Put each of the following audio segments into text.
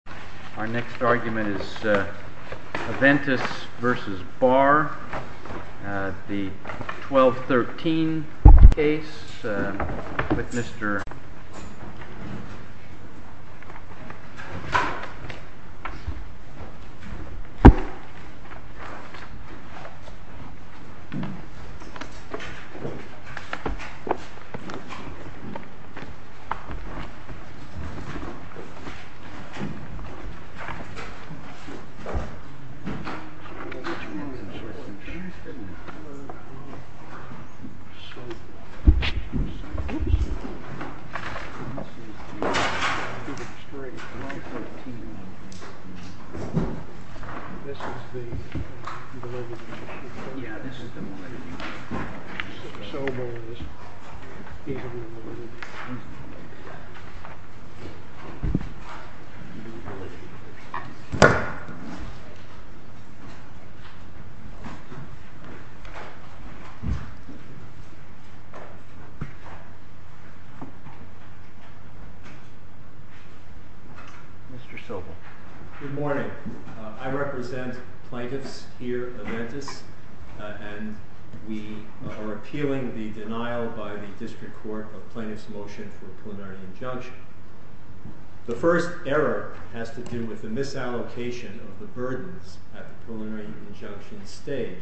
Our next argument is Aventis v. Barr, the 1213 case with Mr. Barr, the 1213 case with Mr. Barr, the 1213 case with Mr. Barr, the 1213 case with Mr. Barr, the 1213 case with Mr. Barr, the 1213 case with Mr. Barr, the 1213 case with Mr. Barr is one that has to do with the misallocation of the burdens at the preliminary injunction stage.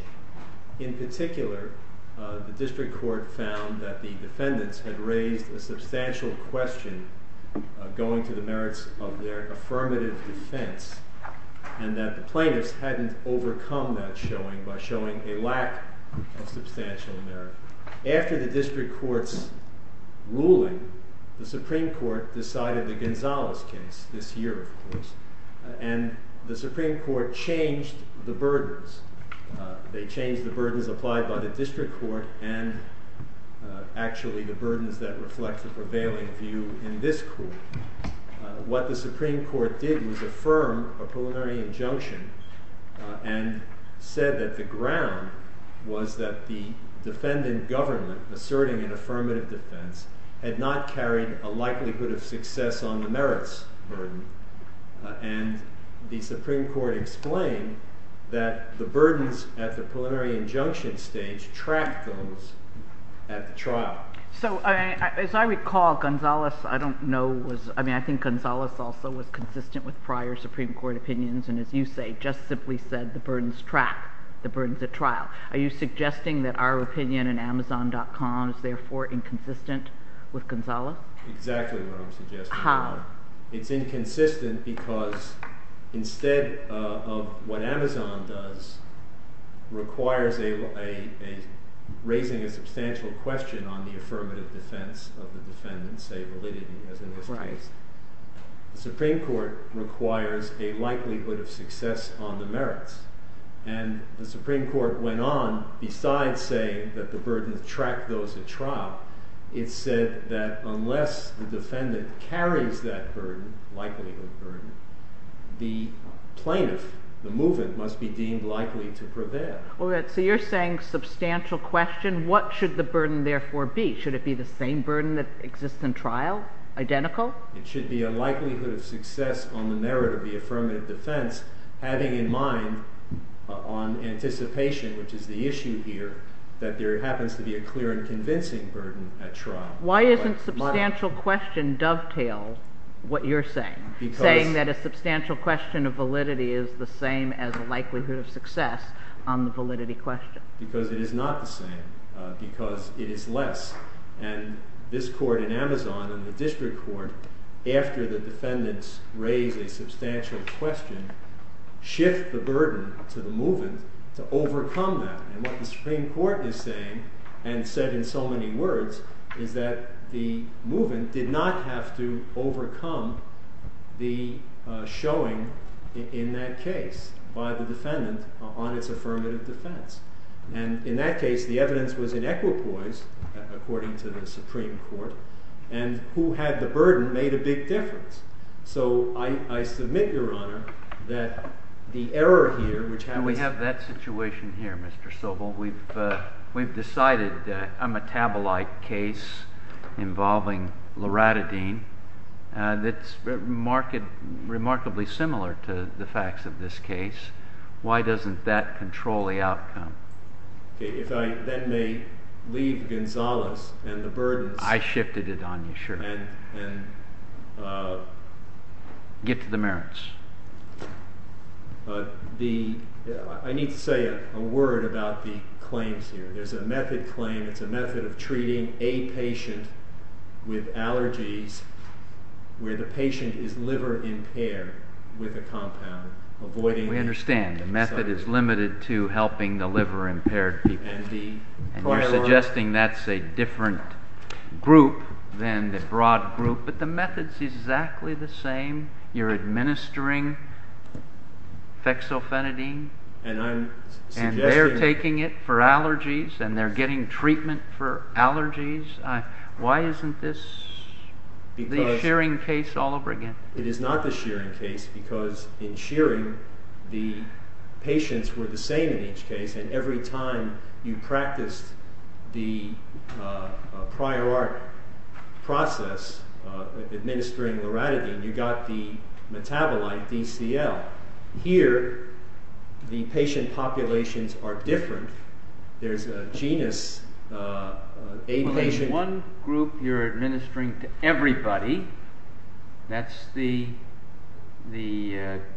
In particular, the district court found that the defendants had raised a substantial question, going to the merits of their affirmative defense, and that the plaintiffs hadn't overcome that showing by showing a lack of substantial merits. After the district court's ruling, the Supreme Court decided the Gonzales case this year, of course, and the Supreme Court changed the burdens. They changed the burdens applied by the district court and actually the burdens that reflect the prevailing view in this court. What the Supreme Court did was affirm a preliminary injunction and said that the ground was that the defendant government asserting an affirmative defense had not carried a likelihood of success on the merits burden, and the Supreme Court explained that the burdens at the preliminary injunction stage tracked those at the trial. So as I recall, Gonzales, I don't know, I mean I think Gonzales also was consistent with prior Supreme Court opinions, and as you say, just simply said the burdens track, the burdens at trial. Are you suggesting that our opinion in Amazon.com is therefore inconsistent with Gonzales? Exactly what I'm suggesting. How? It's inconsistent because instead of what Amazon does, requires a, raising a substantial question on the affirmative defense of the defendants, say validity as in this case, the Supreme Court requires a likelihood of success on the merits, and the Supreme Court went on, besides saying that the burdens track those at trial, it said that unless the defendant carries that burden, likelihood burden, the plaintiff, the movement must be deemed likely to prevail. So you're saying substantial question, what should the burden therefore be? Should it be the same burden that exists in trial? Identical? It should be a likelihood of success on the merit of the affirmative defense, having in mind on anticipation, which is the issue here, that there happens to be a clear and convincing burden at trial. Why doesn't substantial question dovetail what you're saying? Because Saying that a substantial question of validity is the same as a likelihood of success on the validity question. Because it is not the same, because it is less, and this court in Amazon and the district court, after the defendants raise a substantial question, shift the burden to the movement to overcome that, and what the Supreme Court is saying, and said in so many words, is that the movement did not have to overcome the showing in that case by the defendant on its affirmative defense. And in that case, the evidence was in equipoise, according to the Supreme Court, and who had the burden made a big difference. So I submit, Your Honor, that the error here, which happens And we have that situation here, Mr. Sobel. We've decided a metabolite case involving loratadine that's remarkably similar to the facts of this case. Why doesn't that control the outcome? If I then may leave Gonzales and the burdens I shifted it on you, sure. Get to the merits. I need to say a word about the claims here. There's a method claim, it's a method of treating a patient with allergies where the patient is liver impaired with a compound. We understand. The method is limited to helping the liver impaired people. And you're suggesting that's a different group than the broad group, but the method's exactly the same. You're administering fexofenadine, and they're taking it for allergies, and they're getting treatment for allergies. Why isn't this the shearing case all over again? It is not the shearing case because in shearing, the patients were the same in each case, and every time you practiced the prior art process of administering loratadine, you got the metabolite DCL. Here, the patient populations are different. There's a genus, a patient One group you're administering to everybody, that's the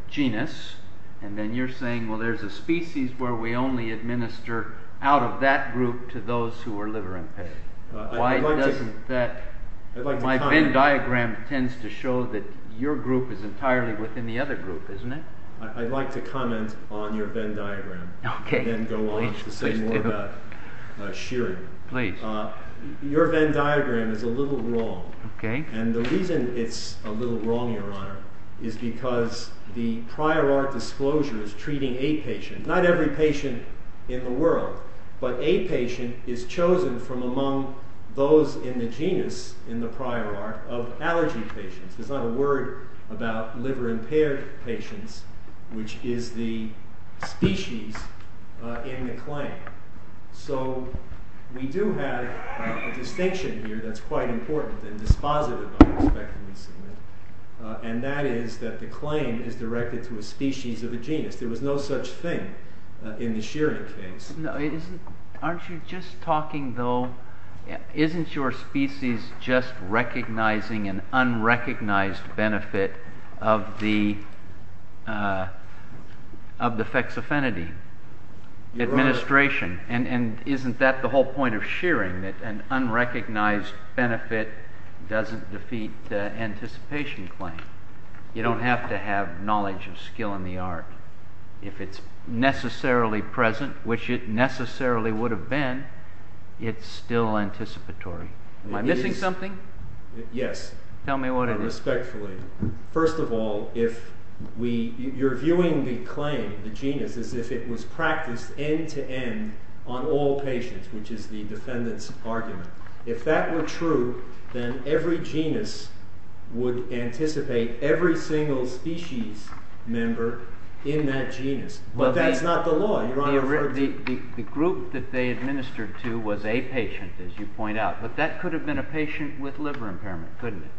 genus, and then you're saying, well, there's a species where we only administer out of that group to those who are liver impaired. My Venn diagram tends to show that your group is entirely within the other group, isn't it? I'd like to comment on your Venn diagram and then go on to say more about shearing. Your Venn diagram is a little wrong, and the reason it's a little wrong, Your Honor, is because the prior art disclosure is treating a patient. Not every patient in the world, but a patient is chosen from among those in the genus, in the prior art, of allergy patients. There's not a word about liver impaired patients, which is the species in the claim. So, we do have a distinction here that's quite important and dispositive, and that is that the claim is directed to a species of a genus. There was no such thing in the shearing case. Aren't you just talking, though, isn't your species just recognizing an unrecognized benefit of the fexofenity administration, and isn't that the whole point of shearing, that an unrecognized benefit doesn't defeat the anticipation claim? You don't have to have knowledge of skill in the art. If it's necessarily present, which it necessarily would have been, it's still anticipatory. Am I missing something? Yes, respectfully. First of all, you're viewing the claim, the genus, as if it was practiced end-to-end on all patients, which is the defendant's argument. If that were true, then every genus would anticipate every single species member in that genus. But that's not the law. The group that they administered to was a patient, as you point out, but that could have been a patient with liver impairment, couldn't it?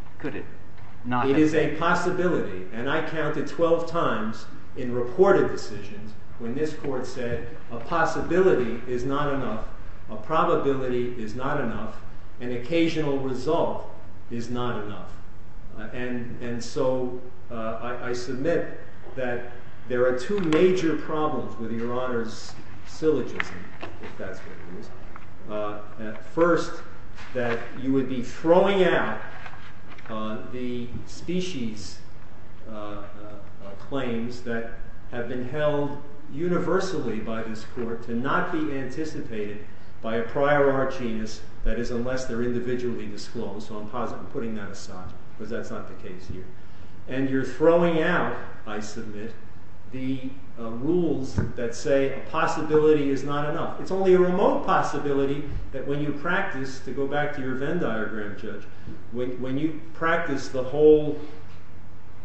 It is a possibility, and I counted 12 times in reported decisions when this court said a possibility is not enough, a probability is not enough, an occasional result is not enough. And so I submit that there are two major problems with Your Honor's syllogism, if that's what it is. First, that you would be throwing out the species claims that have been held universally by this court to not be anticipated by a prior arch genus, that is, unless they're individually disclosed, so I'm putting that aside, because that's not the case here. And you're throwing out, I submit, the rules that say a possibility is not enough. It's only a remote possibility that when you practice, to go back to your Venn diagram, judge, when you practice the whole,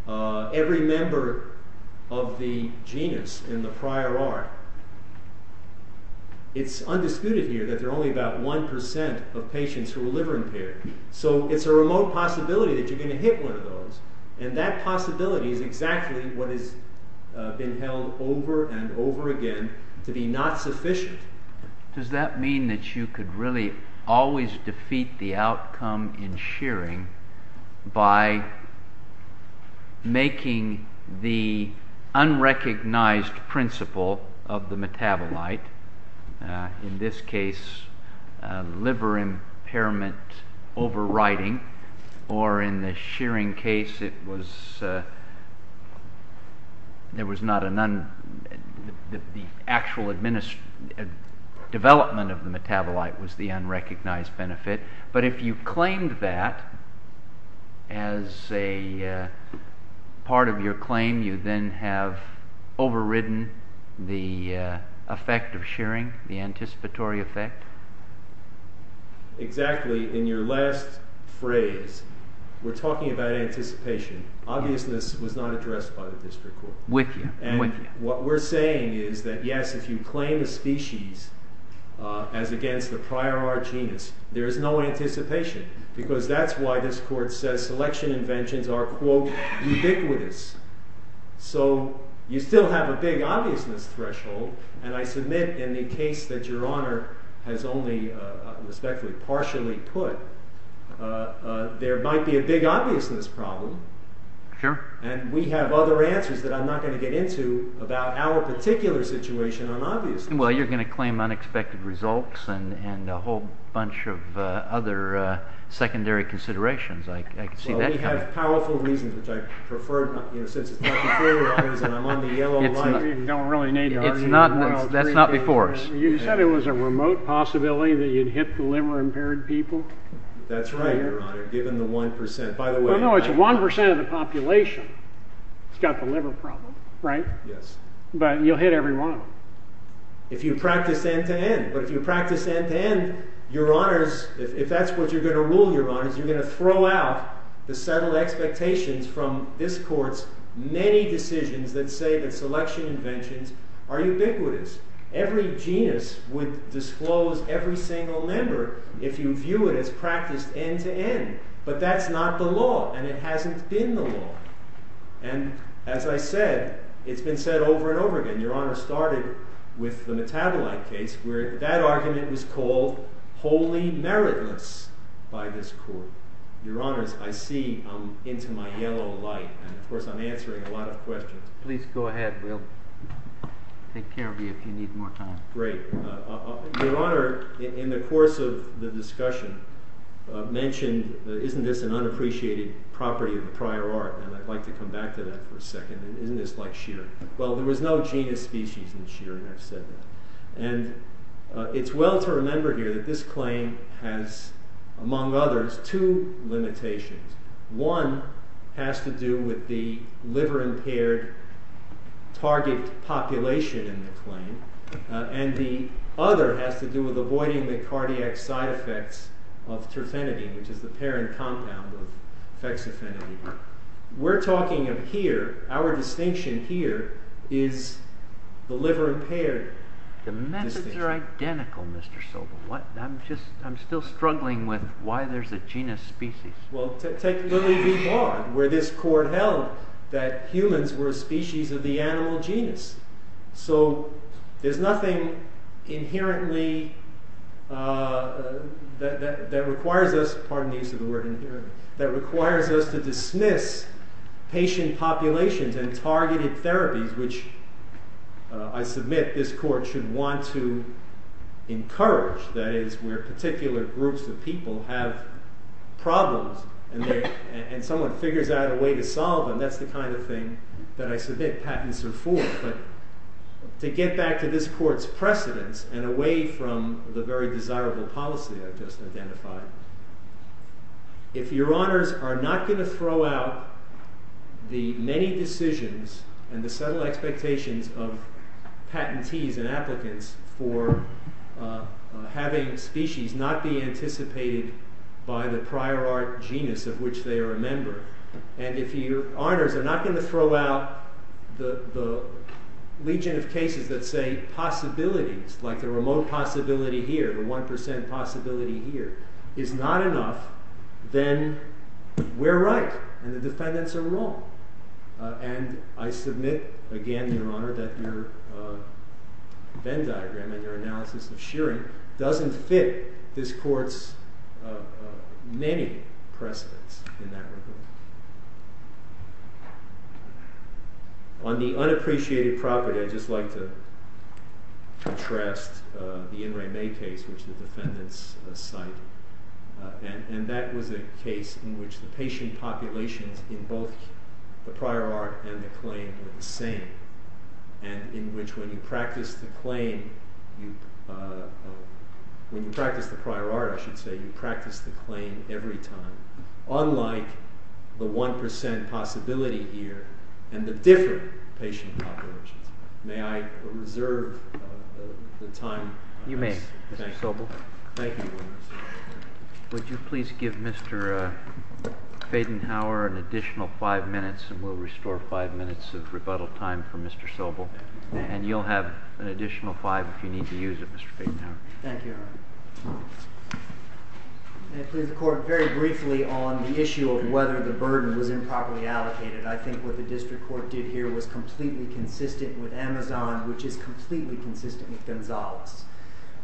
every member of the genus in the prior arch, it's undisputed here that there are only about 1% of patients who are liver impaired. So it's a remote possibility that you're going to hit one of those, and that possibility is exactly what has been held over and over again to be not sufficient. Does that mean that you could really always defeat the outcome in shearing by making the unrecognized principle of the metabolite, in this case, liver impairment overriding, or in the shearing case, it was, there was not, the actual development of the metabolite was the unrecognized benefit, but if you claimed that as a part of your claim, you then have overridden the effect of shearing, the anticipatory effect? Exactly. In your last phrase, we're talking about anticipation. Obviousness was not addressed by the district court. And what we're saying is that, yes, if you claim a species as against the prior arch genus, there is no anticipation, because that's why this court says selection inventions are, quote, In the case that your honor has only, respectfully, partially put, there might be a big obviousness problem. Sure. And we have other answers that I'm not going to get into about our particular situation on obviousness. Well, you're going to claim unexpected results and a whole bunch of other secondary considerations. I can see that coming. Well, we have powerful reasons, which I prefer, since it's not before us, and I'm on the yellow light. You don't really need to argue. That's not before us. You said it was a remote possibility that you'd hit the liver-impaired people? That's right, your honor, given the 1%. No, no, it's 1% of the population that's got the liver problem, right? Yes. But you'll hit every one of them. If you practice end-to-end, but if you practice end-to-end, your honors, if that's what you're going to rule, your honors, you're going to throw out the settled expectations from this court's many decisions that say that selection inventions are ubiquitous. Every genus would disclose every single member if you view it as practiced end-to-end. But that's not the law, and it hasn't been the law. And as I said, it's been said over and over again, your honors, started with the metabolite case where that argument was called wholly meritless by this court. Your honors, I see I'm into my yellow light, and of course I'm answering a lot of questions. Please go ahead, we'll take care of you if you need more time. Great. Your honor, in the course of the discussion mentioned, isn't this an unappreciated property of the prior art? And I'd like to come back to that for a second. Isn't this like shear? Well, there was no genus species in shear, and I've said that. And it's well to remember here that this claim has, among others, two limitations. One has to do with the liver-impaired target population in the claim, and the other has to do with avoiding the cardiac side effects of terfenity, which is the parent compound of fexofenity. We're talking of here, our distinction here, is the liver-impaired distinction. The methods are identical, Mr. Sobel. I'm still struggling with why there's a genus species. Well, take Lily v. Bond, where this court held that humans were a species of the animal genus. So, there's nothing inherently that requires us, pardon the use of the word inherently, that requires us to dismiss patient populations and targeted therapies, which I submit this court should want to encourage. That is, where particular groups of people have problems, and someone figures out a way to solve them, that's the kind of thing that I submit patents are for. But to get back to this court's precedents, and away from the very desirable policy I've just identified, if your honors are not going to throw out the many decisions and the subtle expectations of patentees and applicants for having species not be anticipated by the prior art genus of which they are a member, and if your honors are not going to throw out the legion of cases that say possibilities, like the remote possibility here, the 1% possibility here, is not enough, then we're right, and the defendants are wrong. And I submit, again, your honor, that your Venn diagram and your analysis of Shearing doesn't fit this court's many precedents in that regard. On the unappreciated property, I'd just like to contrast the In Re Me case, which the defendants cite, and that was a case in which the patient populations in both the prior art and the claim were the same, and in which when you practice the claim, when you practice the prior art, I should say, you practice the claim every time, unlike the 1% possibility here, and the different patient populations. May I reserve the time? You may, Mr. Sobel. Thank you. Would you please give Mr. Fadenhauer an additional five minutes, and we'll restore five minutes of rebuttal time for Mr. Sobel, and you'll have an additional five if you need to use it, Mr. Fadenhauer. Thank you, your honor. May I please report very briefly on the issue of whether the burden was improperly allocated? I think what the district court did here was completely consistent with Amazon, which is completely consistent with Gonzales.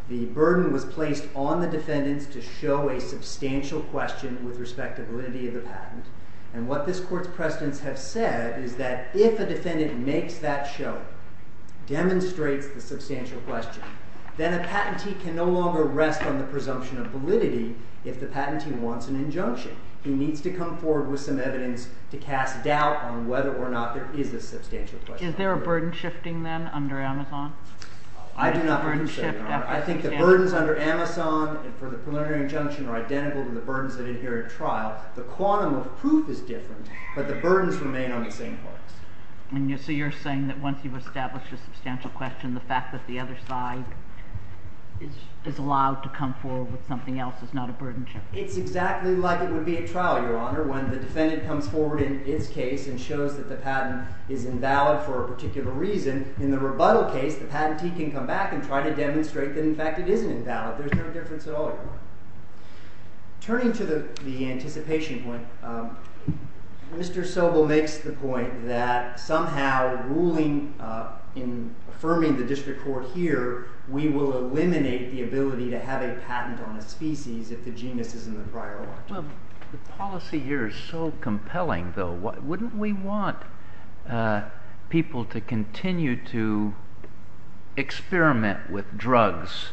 The burden was placed on the defendants to show a substantial question with respect to validity of the patent, and what this court's precedents have said is that if a defendant makes that show, demonstrates the substantial question, then a patentee can no longer rest on the presumption of validity if the patentee wants an injunction. He needs to come forward with some evidence to cast doubt on whether or not there is a substantial question. Is there a burden shifting then under Amazon? I do not think so, your honor. I think the burdens under Amazon for the preliminary injunction are identical to the burdens that adhere at trial. The quantum of proof is different, but the burdens remain on the same parts. So you're saying that once you've established a substantial question, the fact that the other side is allowed to come forward with something else is not a burden shift? It's exactly like it would be at trial, your honor, when the defendant comes forward in its case and shows that the patent is invalid for a particular reason. In the rebuttal case, the patentee can come back and try to demonstrate that, in fact, it isn't invalid. There's no difference at all, your honor. Turning to the anticipation point, Mr. Sobel makes the point that somehow ruling in affirming the district court here, we will eliminate the ability to have a patent on a species if the genus is in the prior order. Well, the policy here is so compelling, though. Wouldn't we want people to continue to experiment with drugs,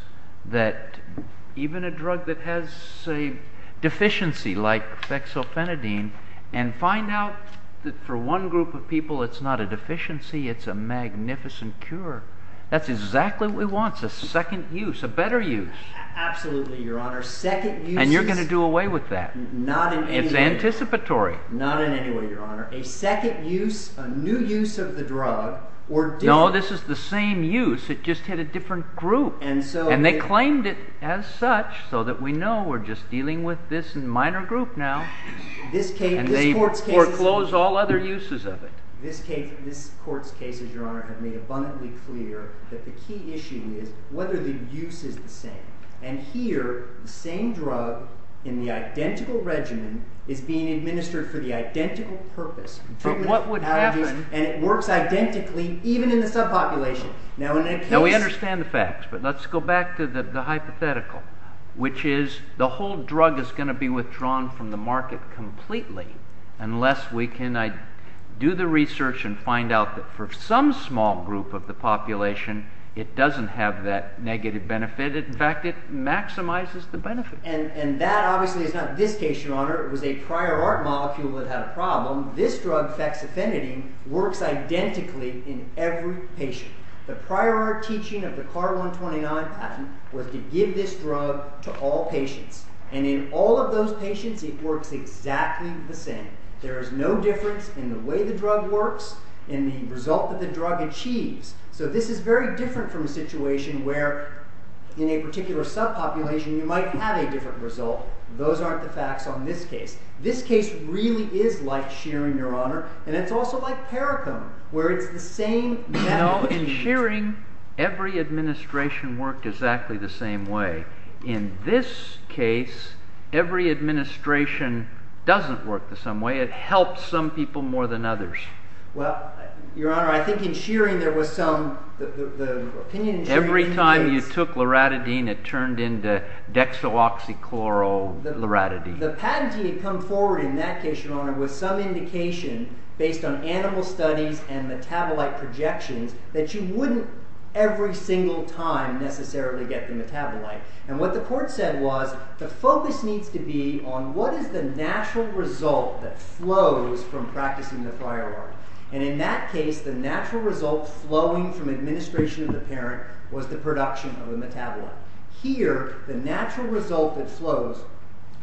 even a drug that has a deficiency like fexofenadine, and find out that for one group of people it's not a deficiency, it's a magnificent cure? That's exactly what we want, a second use, a better use. Absolutely, your honor. And you're going to do away with that? Not in any way. It's anticipatory? Not in any way, your honor. A second use, a new use of the drug, or different? No, this is the same use, it just hit a different group. And they claimed it as such, so that we know we're just dealing with this minor group now. And they foreclose all other uses of it. This court's cases, your honor, have made abundantly clear that the key issue is whether the use is the same. And here, the same drug in the identical regimen is being administered for the identical purpose. But what would happen? And it works identically, even in the subpopulation. Now we understand the facts, but let's go back to the hypothetical, which is the whole drug is going to be withdrawn from the market completely, unless we can do the research and find out that for some small group of the population it doesn't have that negative benefit. In fact, it maximizes the benefit. And that, obviously, is not this case, your honor. It was a prior art molecule that had a problem. This drug, fexafenidine, works identically in every patient. The prior art teaching of the CAR-129 patent was to give this drug to all patients. And in all of those patients, it works exactly the same. There is no difference in the way the drug works, in the result that the drug achieves. So this is very different from a situation where in a particular subpopulation you might have a different result. Those aren't the facts on this case. This case really is like Shearing, your honor. And it's also like Paracone, where it's the same method. No, in Shearing, every administration worked exactly the same way. In this case, every administration doesn't work the same way. It helps some people more than others. Well, your honor, I think in Shearing, there was some opinion in Shearing. Every time you took loratadine, it turned into dexaloxychloro-loratadine. The patentee had come forward in that case, your honor, with some indication, based on animal studies and metabolite projections, that you wouldn't every single time necessarily get the metabolite. And what the court said was, the focus needs to be on what is the natural result that flows from practicing the prior art. And in that case, the natural result flowing from administration of the parent was the production of the metabolite. Here, the natural result that flows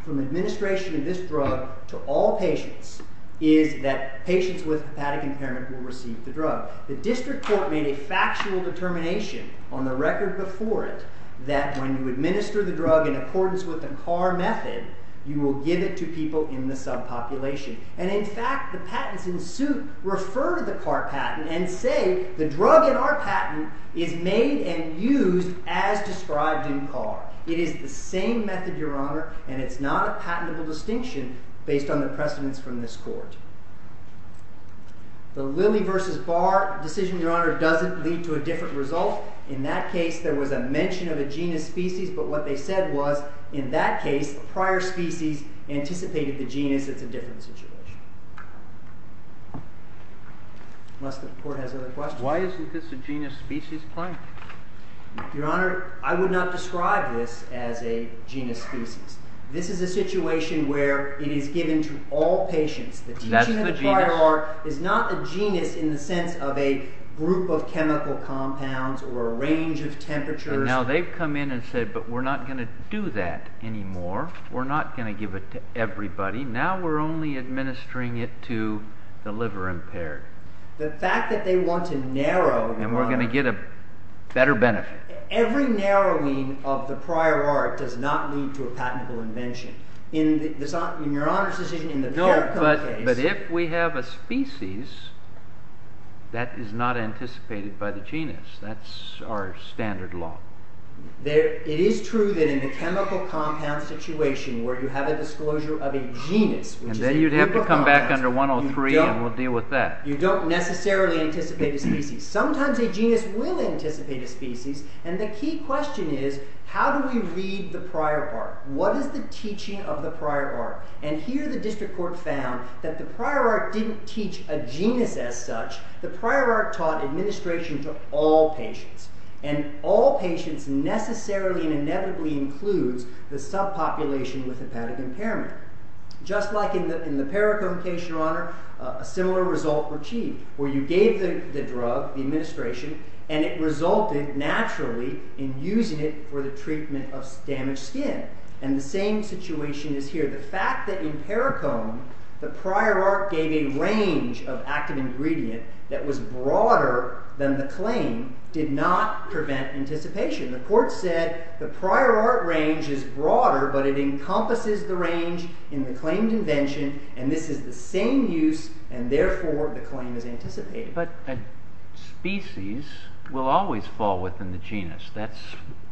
from administration of this drug to all patients is that patients with hepatic impairment will receive the drug. The district court made a factual determination on the record before it, that when you administer the drug in accordance with the CAR method, you will give it to people in the subpopulation. And in fact, the patents in suit refer to the CAR patent and say, the drug in our patent is made and used as described in CAR. It is the same method, your honor, and it's not a patentable distinction based on the precedents from this court. The Lilly versus Barr decision, your honor, doesn't lead to a different result. In that case, there was a mention of a genus species, but what they said was, in that case, prior species anticipated the genus. It's a different situation. Unless the court has other questions. Why isn't this a genus species claim? Your honor, I would not describe this as a genus species. This is a situation where it is given to all patients. The teaching of the CAR is not a genus in the sense of a group of chemical compounds or a range of temperatures. And now they've come in and said, but we're not going to do that anymore. We're not going to give it to everybody. Now we're only administering it to the liver impaired. The fact that they want to narrow, your honor, And we're going to get a better benefit. Every narrowing of the prior art does not lead to a patentable invention. In your honor's decision, in the CARICOM case, No, but if we have a species that is not anticipated by the genus, that's our standard law. It is true that in the chemical compound situation where you have a disclosure of a genus And then you'd have to come back under 103 and we'll deal with that. You don't necessarily anticipate a species. Sometimes a genus will anticipate a species. And the key question is, how do we read the prior art? What is the teaching of the prior art? And here the district court found that the prior art didn't teach a genus as such. The prior art taught administration to all patients. And all patients necessarily and inevitably includes the subpopulation with hepatic impairment. Just like in the CARICOM case, your honor, a similar result was achieved where you gave the drug, the administration, and it resulted naturally in using it for the treatment of damaged skin. And the same situation is here. The fact that in CARICOM the prior art gave a range of active ingredient that was broader than the claim did not prevent anticipation. The court said the prior art range is broader, but it encompasses the range in the claim convention and this is the same use and therefore the claim is anticipated. But a species will always fall within the genus. That's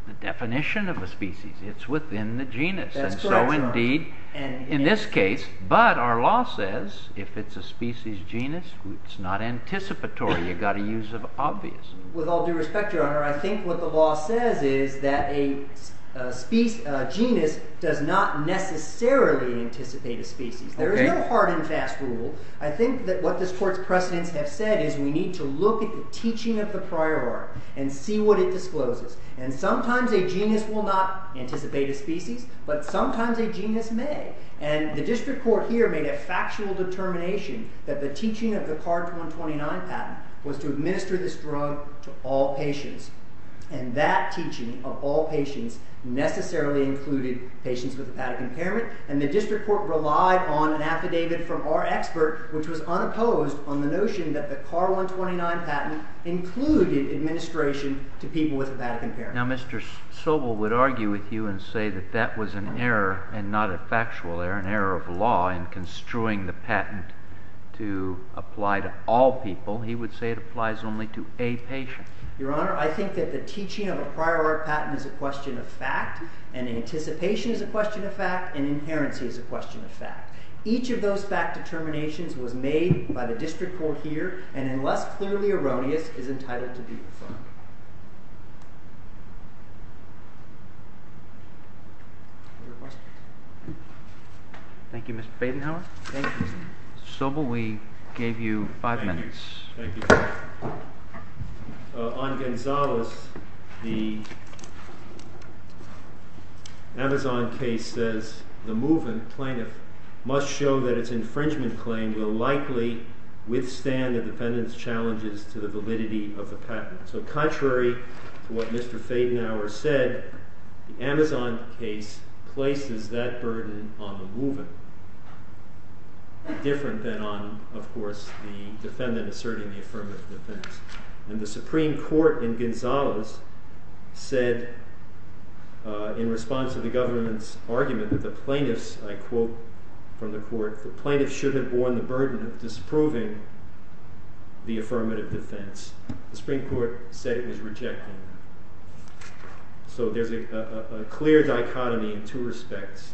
the definition of a species. It's within the genus. That's correct, your honor. In this case, but our law says if it's a species genus it's not anticipatory. You've got to use the obvious. With all due respect, your honor, I think what the law says is that a genus does not necessarily anticipate a species. There is no hard and fast rule. I think what this court's precedents have said is we need to look at the teaching of the prior art and see what it discloses. And sometimes a genus will not anticipate a species, but sometimes a genus may. And the district court here made a factual determination that the teaching of the CARD 129 patent was to administer this drug to all patients. And that teaching of all patients necessarily included patients with hepatic impairment, and the district court relied on an affidavit from our expert, which was unopposed on the notion that the CARD 129 patent included administration to people with hepatic impairment. Now Mr. Sobel would argue with you and say that that was an error, and not a factual error, an error of law in construing the patent to apply to all people. He would say it applies only to a patient. Your Honor, I think that the teaching of a prior art patent is a question of fact, and anticipation is a question of fact, and inherency is a question of fact. Each of those fact determinations was made by the district court here, and unless clearly erroneous is entitled to be confirmed. Thank you Mr. Badenhauer. Sobel, we thank you. On Gonzalez, the Amazon case says the movement plaintiff must show that its infringement claim will likely withstand the defendant's challenges to the validity of the patent. So contrary to what Mr. Badenhauer said, the Amazon case places that burden on the movement, different than on, of course, the defendant asserting the affirmative defense. And the Supreme Court in Gonzalez said in response to the government's argument that the plaintiffs I quote from the court, the plaintiffs should have borne the burden of disproving the affirmative defense. The Supreme Court said it was rejected. So there's a clear dichotomy in two respects.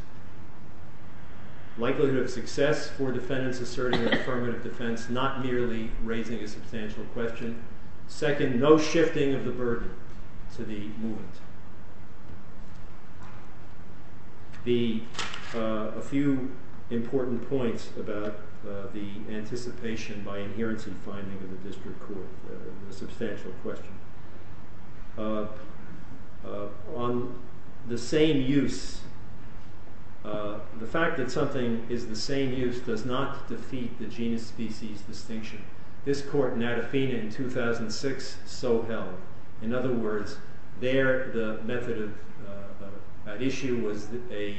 Likelihood of success for defendants asserting the affirmative defense, not merely raising a substantial question. Second, no shifting of the burden to the movement. A few important points about the anticipation by adherence in finding of the district court a substantial question. The same use, the fact that something is the same use does not defeat the genus species distinction. This court in Adafina in 2006 so held. In other words there the method of issue was a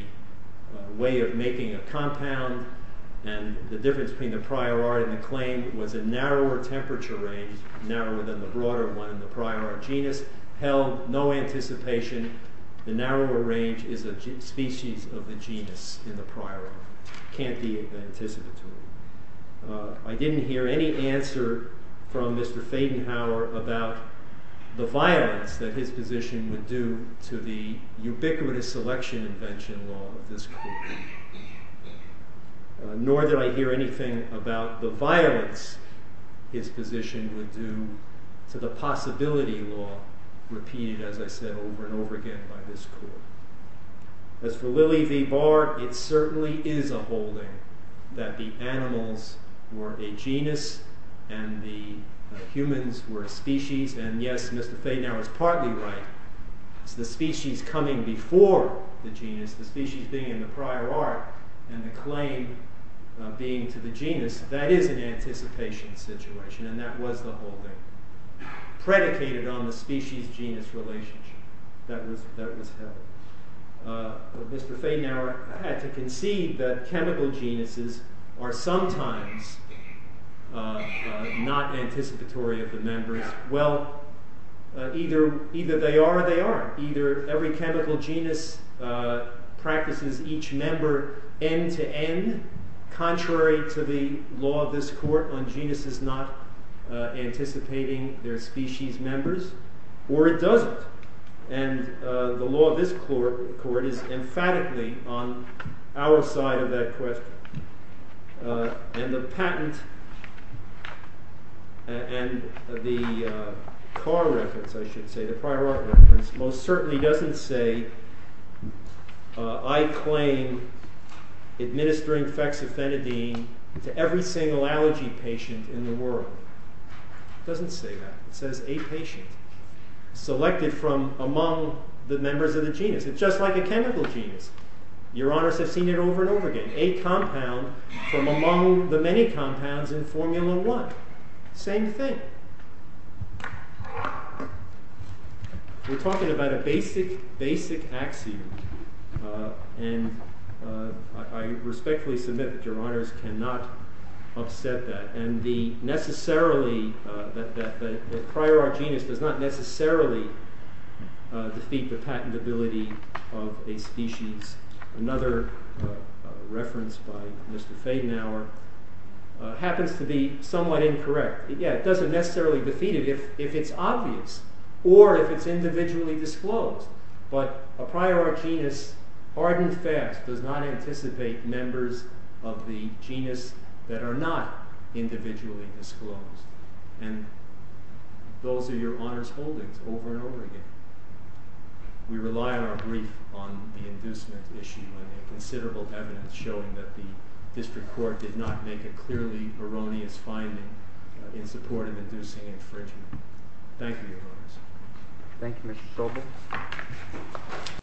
way of making a compound and the difference between the prior art and the claim was a narrower temperature range narrower than the broader one in the prior art genus. Held, no anticipation, the narrower range is a species of the genus in the prior art. Can't be anticipatory. I didn't hear any answer from Mr. Fadenhauer about the violence that his position would do to the ubiquitous selection invention law of this court. Nor did I hear anything about the violence his position would do to the possibility law repeated as I said over and over again by this court. As for Lili V. Bard it certainly is a holding that the animals were a genus and the humans were a species and yes Mr. Fadenhauer is partly right. It's the species coming before the genus the species being in the prior art and the claim being to the genus that is an anticipation situation and that was the holding predicated on the species genus relationship that was held. Mr. Fadenhauer had to concede that chemical genuses are sometimes not anticipatory of the members well either they are or they aren't. Either every chemical genus practices each member end to end contrary to the law of this court on genuses not anticipating their species members or it doesn't and the law of this court is emphatically on our side of that question and the patent and the car reference I should say the prior art reference most certainly doesn't say I claim administering fexofenadine to every single allergy patient in the world. It doesn't say that it says a patient selected from among the members of the genus. It's just like a chemical genus your honors have seen it over and over again. A compound from among the many compounds in formula one. Same thing. We're talking about a basic axiom and I respectfully submit that your honors cannot upset that and the necessarily the prior art genus does not necessarily defeat the patentability of a species. Another reference by Mr. Fadenauer happens to be somewhat incorrect. It doesn't necessarily defeat it if it's obvious or if it's individually disclosed but a prior art genus does not anticipate members of the genus that are not individually disclosed. Those are your honors holdings over and over again. We rely on our brief on the inducement issue and considerable evidence showing that the district court did not make a clearly erroneous finding in support of inducing infringement. Thank you your honors. Thank you Mr. Sobel.